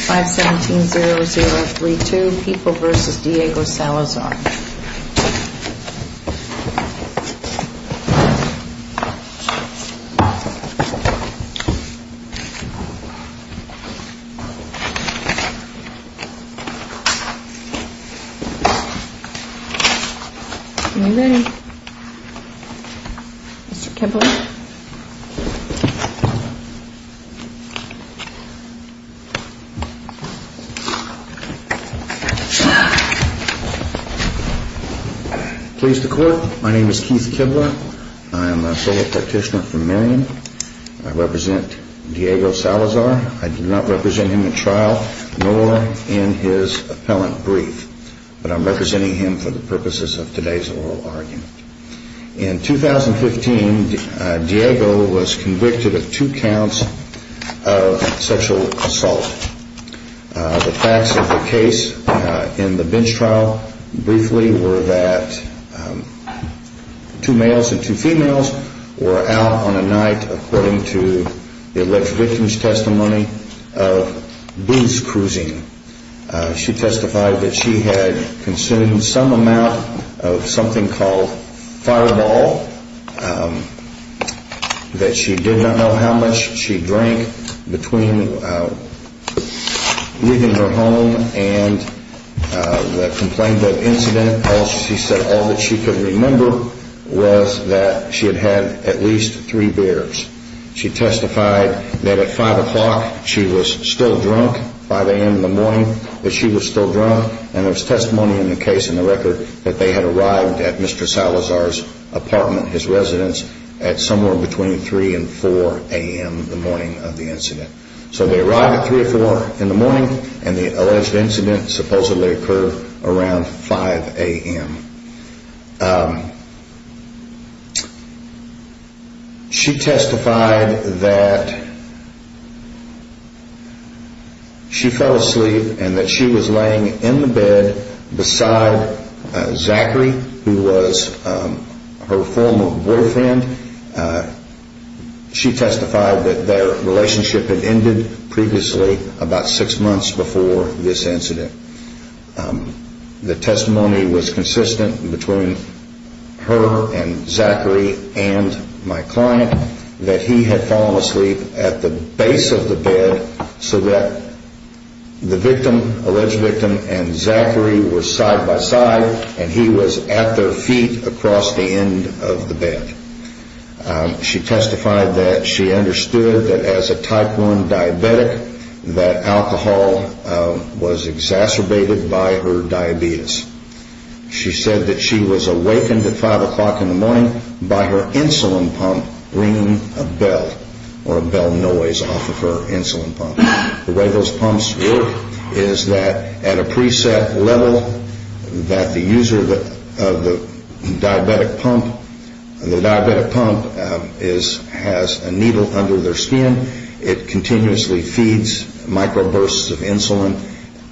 517-0032, People v. Diego Salazar Please the court. My name is Keith Kibler. I am a fellow practitioner from Marion. I represent Diego Salazar. I do not represent him in trial nor in his appellant brief, but I'm representing him for the purposes of today's oral argument. In 2015, Diego was convicted of two counts of sexual assault. The facts of the case in the bench trial briefly were that two males and two females were out on a night, according to the alleged victim's testimony, of beast cruising. She testified that she had consumed some amount of something called Fireball, that she did not know how much she drank between leaving her home and the complaint of incident. All she said, all that she could remember was that she had had at least three beers. She testified that at 5 o'clock she was still drunk, 5 a.m. in the morning that she was still drunk, and there was testimony in the case in the record that they had arrived at Mr. Salazar's apartment, his residence, at somewhere between 3 and 4 a.m. the morning of the incident. So they arrived at 3 or 4 in the morning, and the alleged incident supposedly occurred around 5 a.m. She testified that she fell asleep and that she was laying in the bed beside Zachary, who was her former boyfriend. She testified that their relationship had ended previously, about six months before this incident. The testimony was consistent between her and Zachary and my client that he had fallen asleep at the base of the bed so that the victim, alleged victim, and Zachary were side by side and he was at their feet across the end of the bed. She testified that she understood that as a type 1 diabetic that alcohol was exacerbated by her diabetes. She said that she was awakened at 5 o'clock in the morning by her insulin pump ringing a bell or a bell noise off of her insulin pump. The way those pumps work is that at a preset level that the user of the diabetic pump has a needle under their skin. It continuously feeds microbursts of insulin,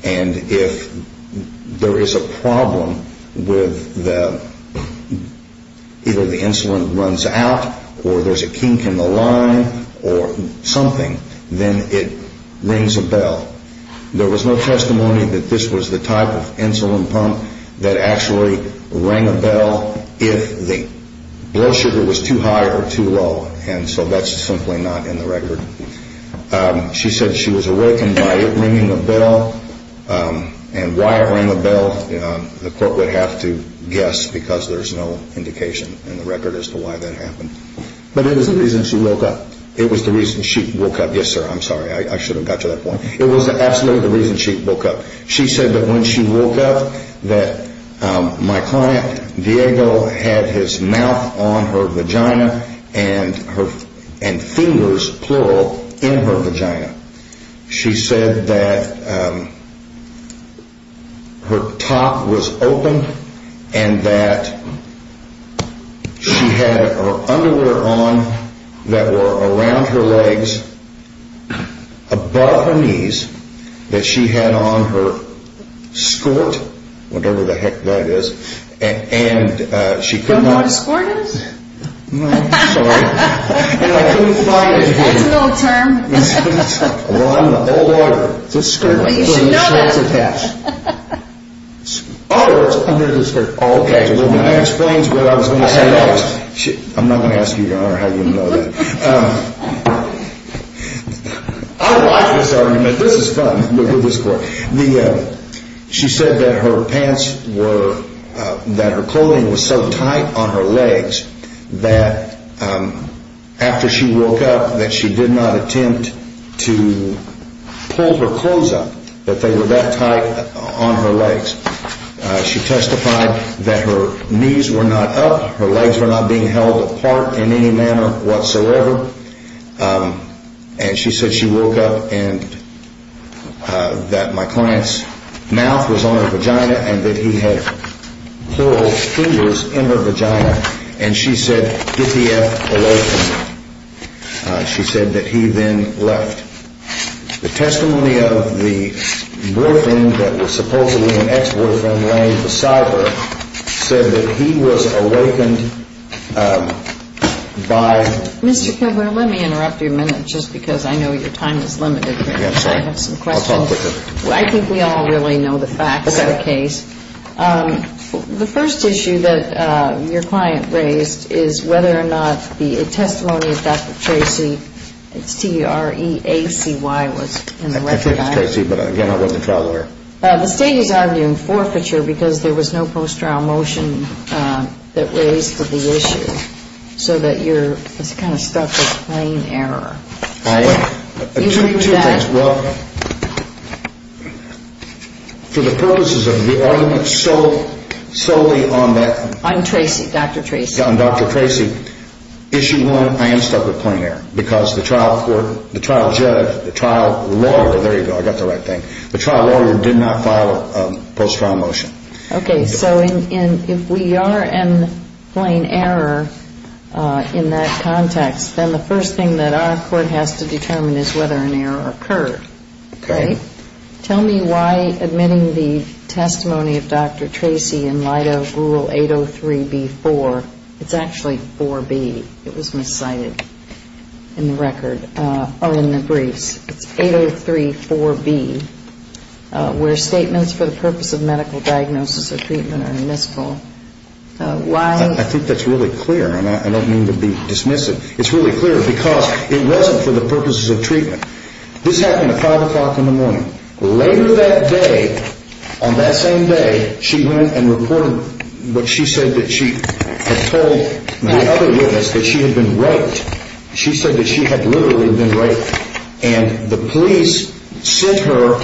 and if there is a problem with either the insulin runs out or there's a kink in the line or something, then it rings a bell. There was no testimony that this was the type of insulin pump that actually rang a bell if the blood sugar was too high or too low, and so that's simply not in the record. She said she was awakened by it ringing a bell, and why it rang a bell the court would have to guess because there's no indication in the record as to why that happened. But it was the reason she woke up. It was absolutely the reason she woke up. She said that when she woke up that my client, Diego, had his mouth on her vagina and fingers, plural, in her vagina. She said that her top was open and that she had her underwear on that were around her legs, above her knees, that she had on her skort, whatever the heck that is, and she could not... Do you know what a skort is? No, sorry. That's an old term. Well, I'm the old order. It's a skort. Well, you should know that. Oh, it's under the skort. Oh, okay. That explains what I was going to say. I'm not going to ask you, Your Honor, how you know that. I like this argument. This is fun. She said that her pants were, that her clothing was so tight on her legs that after she woke up that she did not attempt to pull her clothes up, that they were that tight on her legs. She testified that her knees were not up, her legs were not being held apart in any manner whatsoever, and she said she woke up and that my client's mouth was on her vagina and that he had plural fingers in her vagina, and she said, get the eff away from me. She said that he then left. The testimony of the boyfriend that was supposedly an ex-boyfriend, Lane DeCypher, said that he was awakened by... Mr. Kilburn, let me interrupt you a minute just because I know your time is limited. I have some questions. I'll talk with her. I think we all really know the facts of the case. The first issue that your client raised is whether or not the testimony of Dr. Tracy, C-R-E-A-C-Y, was in the record. I think it was Tracy, but again, I wasn't a trial lawyer. The state is arguing forfeiture because there was no post-trial motion that raised the issue, so that you're kind of stuck with plain error. You heard that? Well, for the purposes of the argument solely on that... On Tracy, Dr. Tracy. On Dr. Tracy, issue one, I am stuck with plain error because the trial court, the trial judge, the trial lawyer, there you go, I got the right thing, the trial lawyer did not file a post-trial motion. Okay. So if we are in plain error in that context, then the first thing that our court has to determine is whether an error occurred. Okay. Tell me why admitting the testimony of Dr. Tracy in light of Rule 803B-4, it's actually 4B, it was miscited in the record, or in the briefs. It's 803-4B, where statements for the purpose of medical diagnosis or treatment are miscible. Why... I think that's really clear, and I don't mean to be dismissive. It's really clear because it wasn't for the purposes of treatment. This happened at 5 o'clock in the morning. Later that day, on that same day, she went and reported what she said that she had told the other witness that she had been raped. She said that she had literally been raped, and the police sent her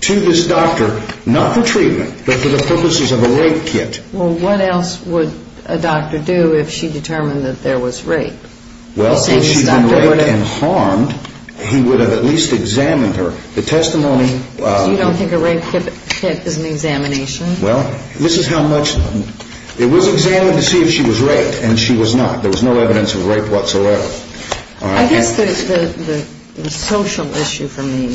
to this doctor, not for treatment, but for the purposes of a rape kit. Well, what else would a doctor do if she determined that there was rape? Well, if she had been raped and harmed, he would have at least examined her. The testimony... So you don't think a rape kit is an examination? Well, this is how much... It was examined to see if she was raped, and she was not. There was no evidence of rape whatsoever. I guess the social issue for me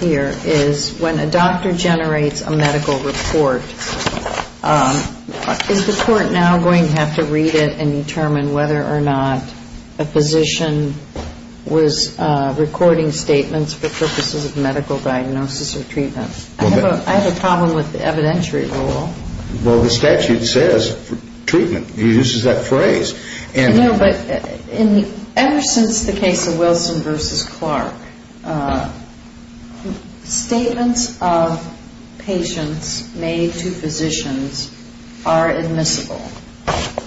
here is when a doctor generates a medical report, is the court now going to have to read it and determine whether or not a physician was recording statements for purposes of medical diagnosis or treatment? I have a problem with the evidentiary rule. Well, the statute says treatment. It uses that phrase. No, but ever since the case of Wilson v. Clark, statements of patients made to physicians are admissible.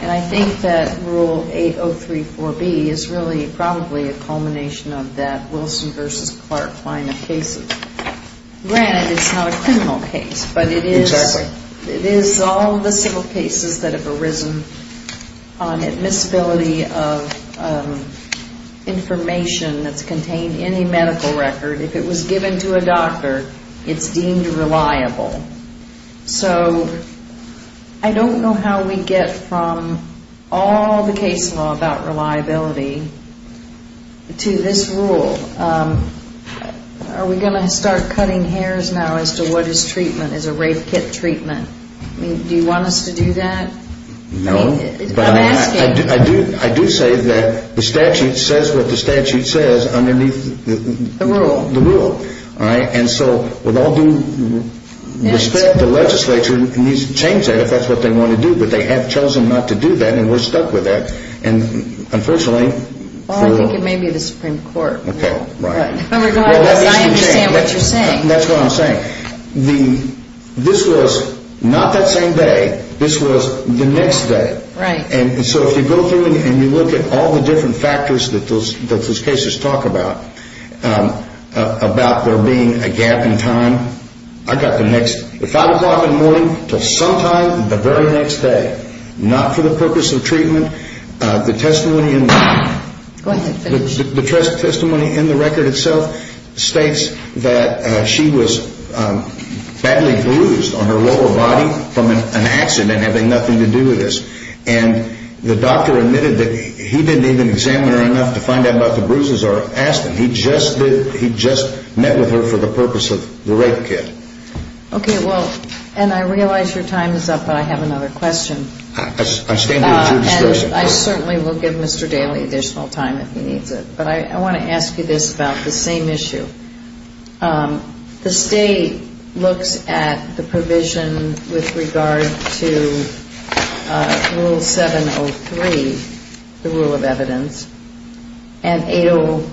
And I think that Rule 8034B is really probably a culmination of that Wilson v. Clark line of cases. Granted, it's not a criminal case, but it is all the civil cases that have arisen on admissibility of information that's contained in a medical record. If it was given to a doctor, it's deemed reliable. So I don't know how we get from all the case law about reliability to this rule. Are we going to start cutting hairs now as to what is treatment, is a rape kit treatment? Do you want us to do that? No, but I do say that the statute says what the statute says underneath the rule. And so with all due respect, the legislature needs to change that if that's what they want to do. But they have chosen not to do that, and we're stuck with that. Well, I think it may be the Supreme Court. Okay, right. But regardless, I understand what you're saying. That's what I'm saying. This was not that same day. This was the next day. Right. And so if you go through and you look at all the different factors that those cases talk about, about there being a gap in time, I got the next 5 o'clock in the morning until sometime the very next day, not for the purpose of treatment. The testimony in the record itself states that she was badly bruised on her lower body from an accident having nothing to do with this. And the doctor admitted that he didn't even examine her enough to find out about the bruises or ask them. He just met with her for the purpose of the rape kit. Okay, well, and I realize your time is up, but I have another question. I'm standing at your discretion. And I certainly will give Mr. Daly additional time if he needs it. But I want to ask you this about the same issue. The state looks at the provision with regard to Rule 703, the rule of evidence, and Rule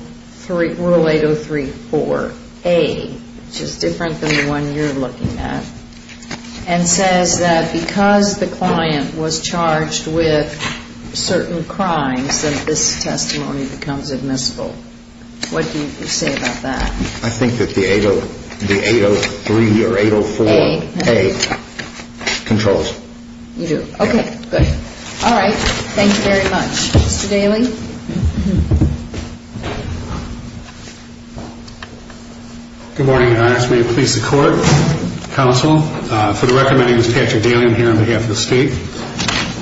803-4A, which is different than the one you're looking at, and says that because the client was charged with certain crimes that this testimony becomes admissible. What do you say about that? I think that the 803 or 804-A controls. You do? Okay, good. All right. Thank you very much. Mr. Daly? Good morning, Your Honors. May it please the Court, Counsel, for the record, my name is Patrick Daly. I'm here on behalf of the state.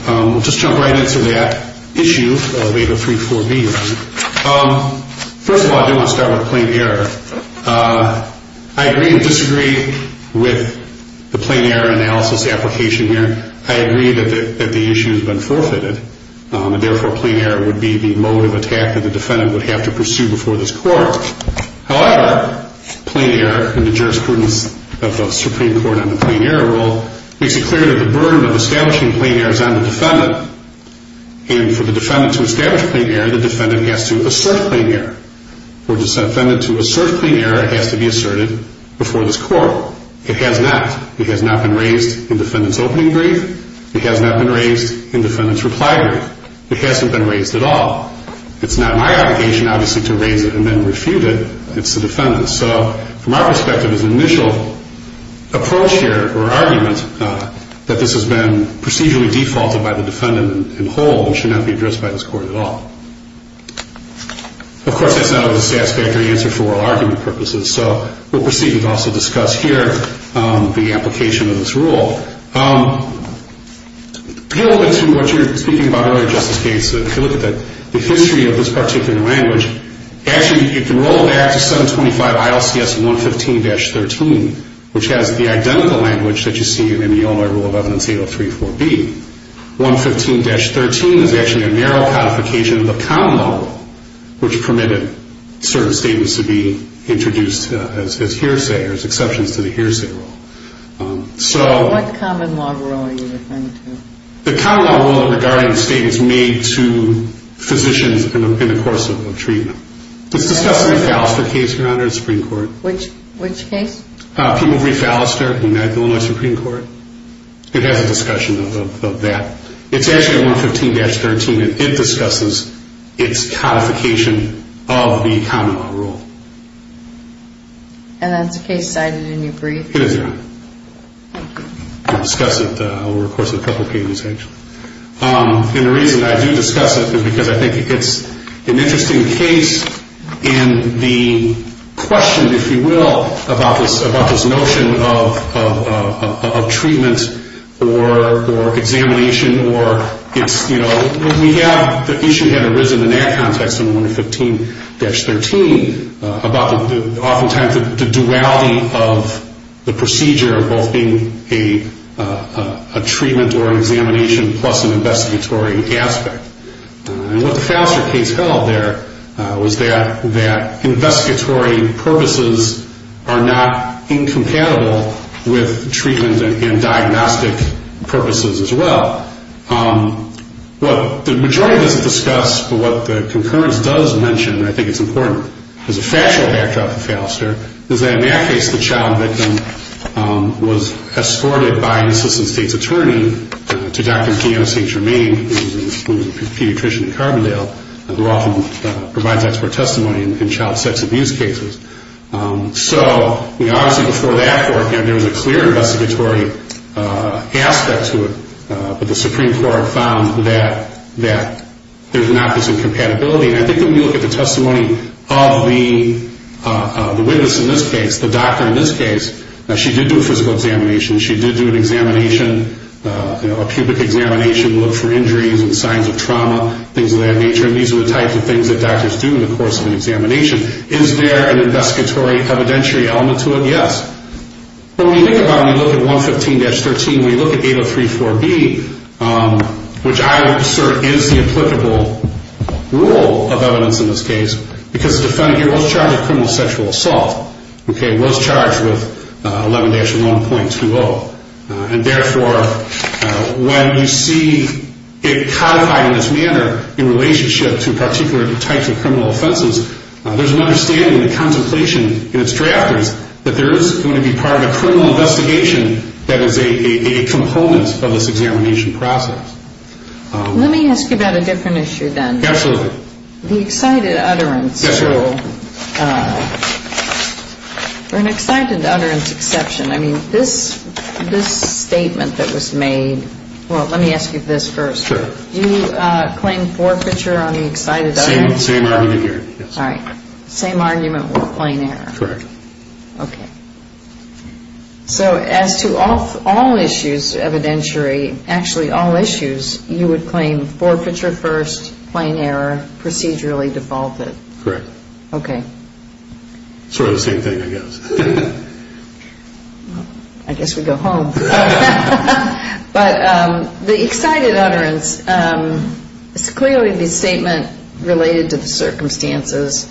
We'll just jump right into that issue of 803-4B. First of all, I do want to start with plain error. I agree and disagree with the plain error analysis application here. I agree that the issue has been forfeited, and therefore plain error would be the motive attack that the defendant would have to pursue before this Court. However, plain error in the jurisprudence of the Supreme Court on the plain error rule makes it clear that the burden of establishing plain error is on the defendant, and for the defendant to establish plain error, the defendant has to assert plain error. For the defendant to assert plain error, it has to be asserted before this Court. It has not. It has not been raised in defendant's opening brief. It has not been raised in defendant's reply brief. It hasn't been raised at all. It's not my obligation, obviously, to raise it and then refute it. It's the defendant's. So from our perspective, his initial approach here or argument that this has been procedurally defaulted by the defendant in whole should not be addressed by this Court at all. Of course, that's not always a satisfactory answer for oral argument purposes, so we'll proceed with also discuss here the application of this rule. To get a little bit to what you were speaking about earlier, Justice Gates, if you look at the history of this particular language, actually, if you roll back to 725 ILCS 115-13, which has the identical language that you see in the Illinois Rule of Evidence 8034B, 115-13 is actually a narrow codification of the common law rule, which permitted certain statements to be introduced as hearsay or as exceptions to the hearsay rule. What common law rule are you referring to? The common law rule regarding statements made to physicians in the course of treatment. It's discussed in the Pfallister case, Your Honor, in the Supreme Court. Which case? Pima v. Pfallister in the Illinois Supreme Court. It has a discussion of that. It's actually 115-13, and it discusses its codification of the common law rule. And that's a case cited in your brief? It is, Your Honor. We'll discuss it over the course of a couple of pages, actually. And the reason I do discuss it is because I think it's an interesting case, and the question, if you will, about this notion of treatment or examination or it's, you know, the issue had arisen in that context in 115-13 about oftentimes the duality of the procedure, both being a treatment or an examination plus an investigatory aspect. And what the Pfallister case held there was that investigatory purposes are not incompatible with treatment and diagnostic purposes as well. But the majority of this is discussed, but what the concurrence does mention, and I think it's important as a factual backdrop for Pfallister, is that in that case the child victim was escorted by an assistant state's attorney to Dr. Gianna St. Germain, who was a pediatrician in Carbondale, who often provides expert testimony in child sex abuse cases. So, you know, obviously before that court, you know, there was a clear investigatory aspect to it, but the Supreme Court found that there's an opposite compatibility. And I think that when you look at the testimony of the witness in this case, the doctor in this case, she did do a physical examination, she did do an examination, you know, a pubic examination, look for injuries and signs of trauma, things of that nature, and these are the types of things that doctors do in the course of an examination. Is there an investigatory evidentiary element to it? Yes. But when you think about it, when you look at 115-13, when you look at 8034B, which I would assert is the applicable rule of evidence in this case, because the defendant here was charged with criminal sexual assault, okay, was charged with 11-1.20. And therefore, when you see it codified in this manner in relationship to particular types of criminal offenses, there's an understanding and contemplation in its drafters that there is going to be part of a criminal investigation that is a component of this examination process. Let me ask you about a different issue then. Absolutely. The excited utterance rule. Yes, ma'am. For an excited utterance exception, I mean, this statement that was made, well, let me ask you this first. Sure. Did you claim forfeiture on the excited utterance? Same argument here, yes. All right. Same argument with plain error. Correct. Okay. So as to all issues evidentiary, actually all issues, you would claim forfeiture first, plain error, procedurally defaulted? Correct. Okay. Sort of the same thing, I guess. I guess we go home. But the excited utterance, it's clearly the statement related to the circumstances,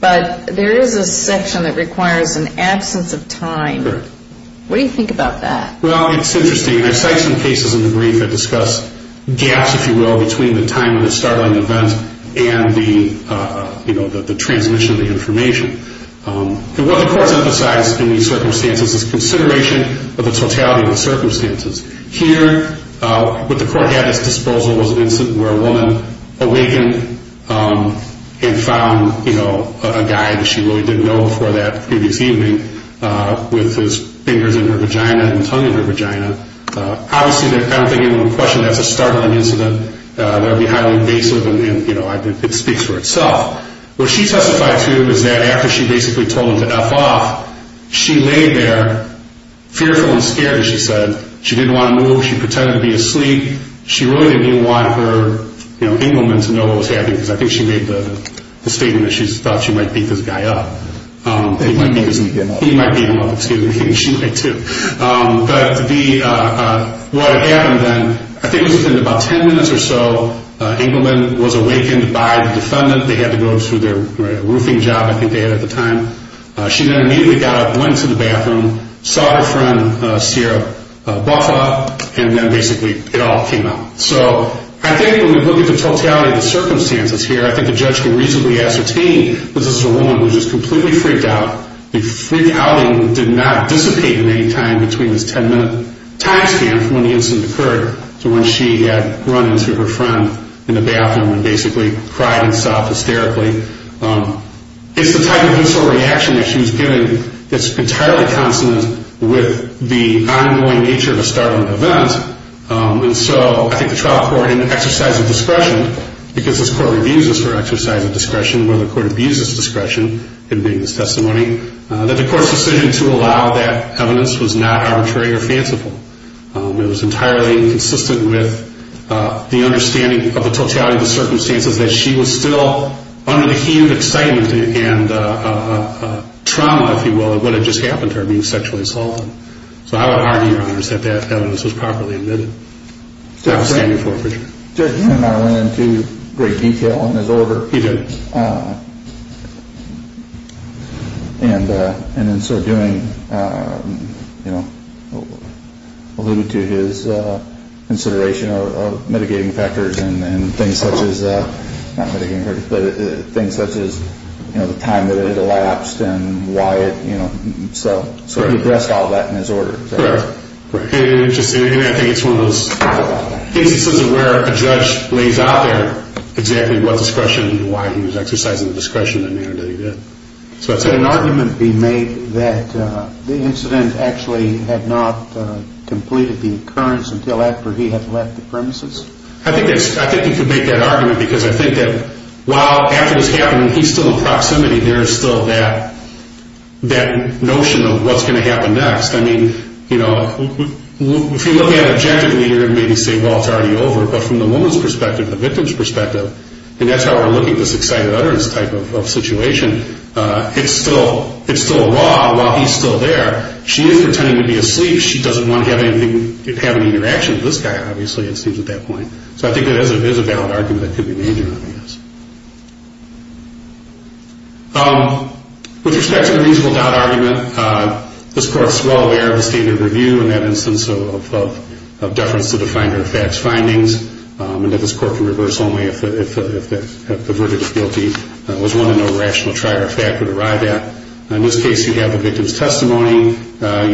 but there is a section that requires an absence of time. Correct. What do you think about that? Well, it's interesting. I cite some cases in the brief that discuss gaps, if you will, between the time of the startling event and the transmission of the information. And what the courts emphasize in these circumstances is consideration of the totality of the circumstances. Here, what the court had at its disposal was an incident where a woman awakened and found, you know, a guy that she really didn't know before that previous evening with his fingers in her vagina and tongue in her vagina. Obviously, I don't think anyone questioned that as a startling incident. That would be highly invasive, and, you know, it speaks for itself. What she testified to is that after she basically told him to F off, she lay there fearful and scared, as she said. She didn't want to move. She pretended to be asleep. She really didn't want her, you know, Engleman to know what was happening, because I think she made the statement that she thought she might beat this guy up. He might beat him up. He might beat him up, too. She might, too. But what happened then, I think it was within about 10 minutes or so, Engleman was awakened by the defendant. They had to go through their roofing job, I think they had at the time. She then immediately got up, went to the bathroom, saw her friend, Sierra Buffa, and then basically it all came out. So I think when we look at the totality of the circumstances here, I think the judge can reasonably ascertain that this is a woman who was just completely freaked out. The freak outing did not dissipate in any time between this 10-minute time span from when the incident occurred to when she had run into her friend in the bathroom and basically cried and sobbed hysterically. It's the type of initial reaction that she was giving that's entirely consonant with the ongoing nature of a startling event. And so I think the trial court, in an exercise of discretion, because this court reviews this for an exercise of discretion, where the court views this discretion in making this testimony, that the court's decision to allow that evidence was not arbitrary or fanciful. It was entirely consistent with the understanding of the totality of the circumstances that she was still under the heat of excitement and trauma, if you will, of what had just happened to her being sexually assaulted. So I would argue, Your Honors, that that evidence was properly admitted. That's what I'm standing for, for sure. The judge went into great detail on his order. He did. And in sort of doing, you know, alluded to his consideration of mitigating factors and things such as, not mitigating factors, but things such as, you know, the time that it elapsed and why it, you know, so he addressed all of that in his order. Correct. Interesting. And I think it's one of those cases where a judge lays out there exactly what discretion and why he was exercising the discretion in there that he did. Could an argument be made that the incident actually had not completed the occurrence until after he had left the premises? I think you could make that argument because I think that while after this happened, he's still in proximity, there's still that notion of what's going to happen next. I mean, you know, if you look at it objectively, you're going to maybe say, well, it's already over. But from the woman's perspective, the victim's perspective, and that's how we're looking at this excited utterance type of situation, it's still a law while he's still there. She is pretending to be asleep. She doesn't want to have any interaction with this guy, obviously, it seems at that point. So I think that is a valid argument that could be made, I guess. With respect to the reasonable doubt argument, this Court is well aware of the standard review in that instance of deference to the finder of fact's findings, and that this Court can reverse only if the verdict of guilty was one in no rational trial or fact would arrive at. In this case, you have the victim's testimony. You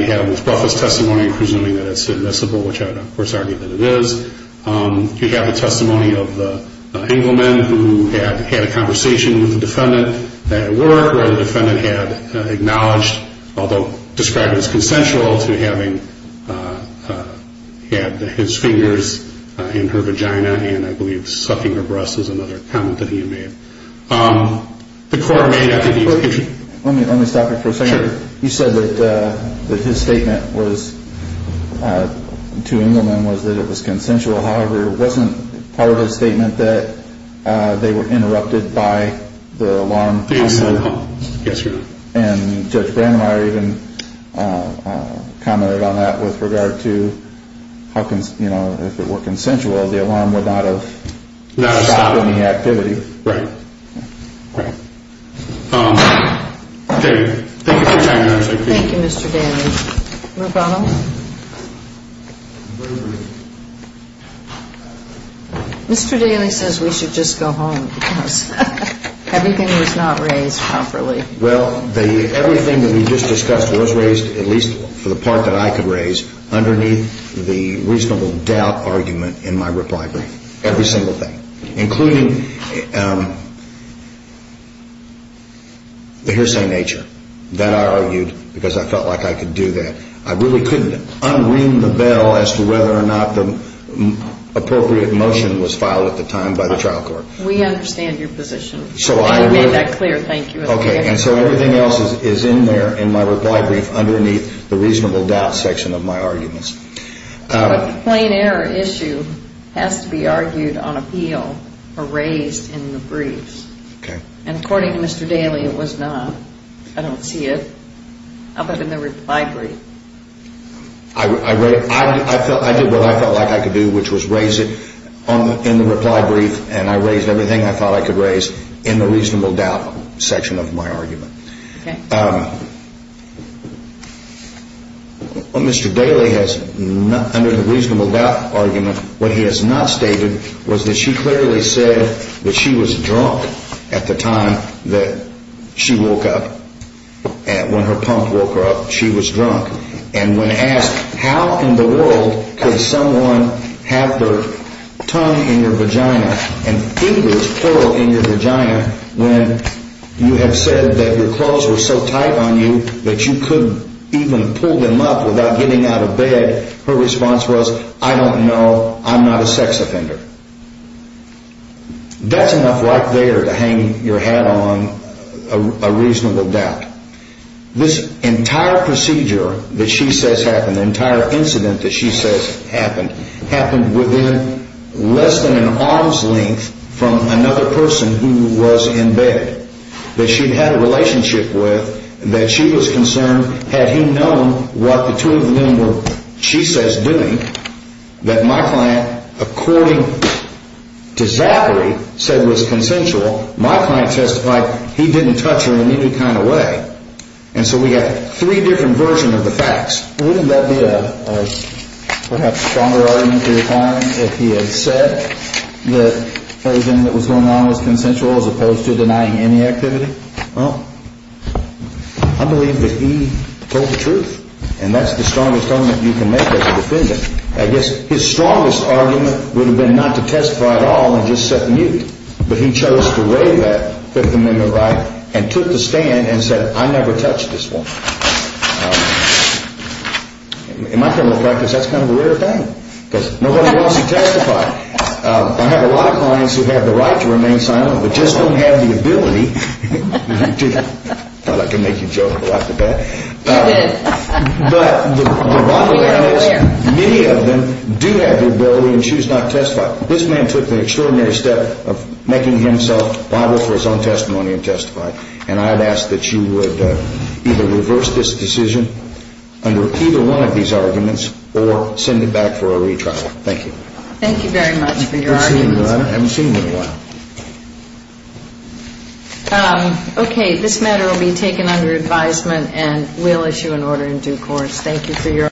have Ms. Brough's testimony, presuming that it's admissible, which I would, of course, argue that it is. You have the testimony of the Engelman, who had had a conversation with the defendant at work where the defendant had acknowledged, although described as consensual, to having had his fingers in her vagina and, I believe, sucking her breasts is another comment that he made. The Court may have to be... Let me stop you for a second. You said that his statement to Engelman was that it was consensual. However, wasn't part of his statement that they were interrupted by the alarm? Yes, Your Honor. And Judge Brandmeier even commented on that with regard to how, you know, if it were consensual, the alarm would not have stopped any activity. Right. Right. Okay. Thank you for your time, Your Honor. Thank you, Mr. Daly. Rubano? Mr. Daly says we should just go home because everything was not raised properly. Well, everything that we just discussed was raised, at least for the part that I could raise, underneath the reasonable doubt argument in my reply brief, every single thing, including the hearsay nature that I argued because I felt like I could do that. I really couldn't un-ring the bell as to whether or not the appropriate motion was filed at the time by the trial court. We understand your position. So I really... I made that clear. Thank you. Okay. And so everything else is in there in my reply brief underneath the reasonable doubt section of my arguments. But the plain error issue has to be argued on appeal or raised in the briefs. Okay. And according to Mr. Daly, it was not. I don't see it. How about in the reply brief? I did what I felt like I could do, which was raise it in the reply brief, and I raised everything I thought I could raise in the reasonable doubt section of my argument. Okay. Mr. Daly has, under the reasonable doubt argument, what he has not stated was that she clearly said that she was drunk at the time that she woke up. When her pump woke her up, she was drunk. And when asked how in the world could someone have their tongue in your vagina and fingers curl in your vagina when you have said that your clothes were so tight on you that you couldn't even pull them up without getting out of bed, her response was, I don't know, I'm not a sex offender. That's enough right there to hang your hat on a reasonable doubt. This entire procedure that she says happened, the entire incident that she says happened, happened within less than an arm's length from another person who was in bed that she had a relationship with, that she was concerned, had he known what the two of them were, she says, doing, that my client, according to Zachary, said was consensual, my client testified he didn't touch her in any kind of way. And so we have three different versions of the facts. Wouldn't that be a perhaps stronger argument to your client if he had said that everything that was going on was consensual as opposed to denying any activity? Well, I believe that he told the truth. And that's the strongest argument you can make as a defendant. I guess his strongest argument would have been not to testify at all and just set the mute. But he chose to waive that Fifth Amendment right and took the stand and said, I never touched this woman. In my point of practice, that's kind of a rare thing because nobody wants to testify. I have a lot of clients who have the right to remain silent, but just don't have the ability to. I thought I could make you joke and laugh at that. You did. But the bottom line is many of them do have the ability and choose not to testify. This man took the extraordinary step of making himself viable for his own testimony and testify. And I'd ask that you would either reverse this decision under either one of these arguments or send it back for a retrial. Thank you. Thank you very much for your arguments. Thank you, Your Honor. I haven't seen you in a while. Okay. This matter will be taken under advisement and we'll issue an order in due course. Thank you for your...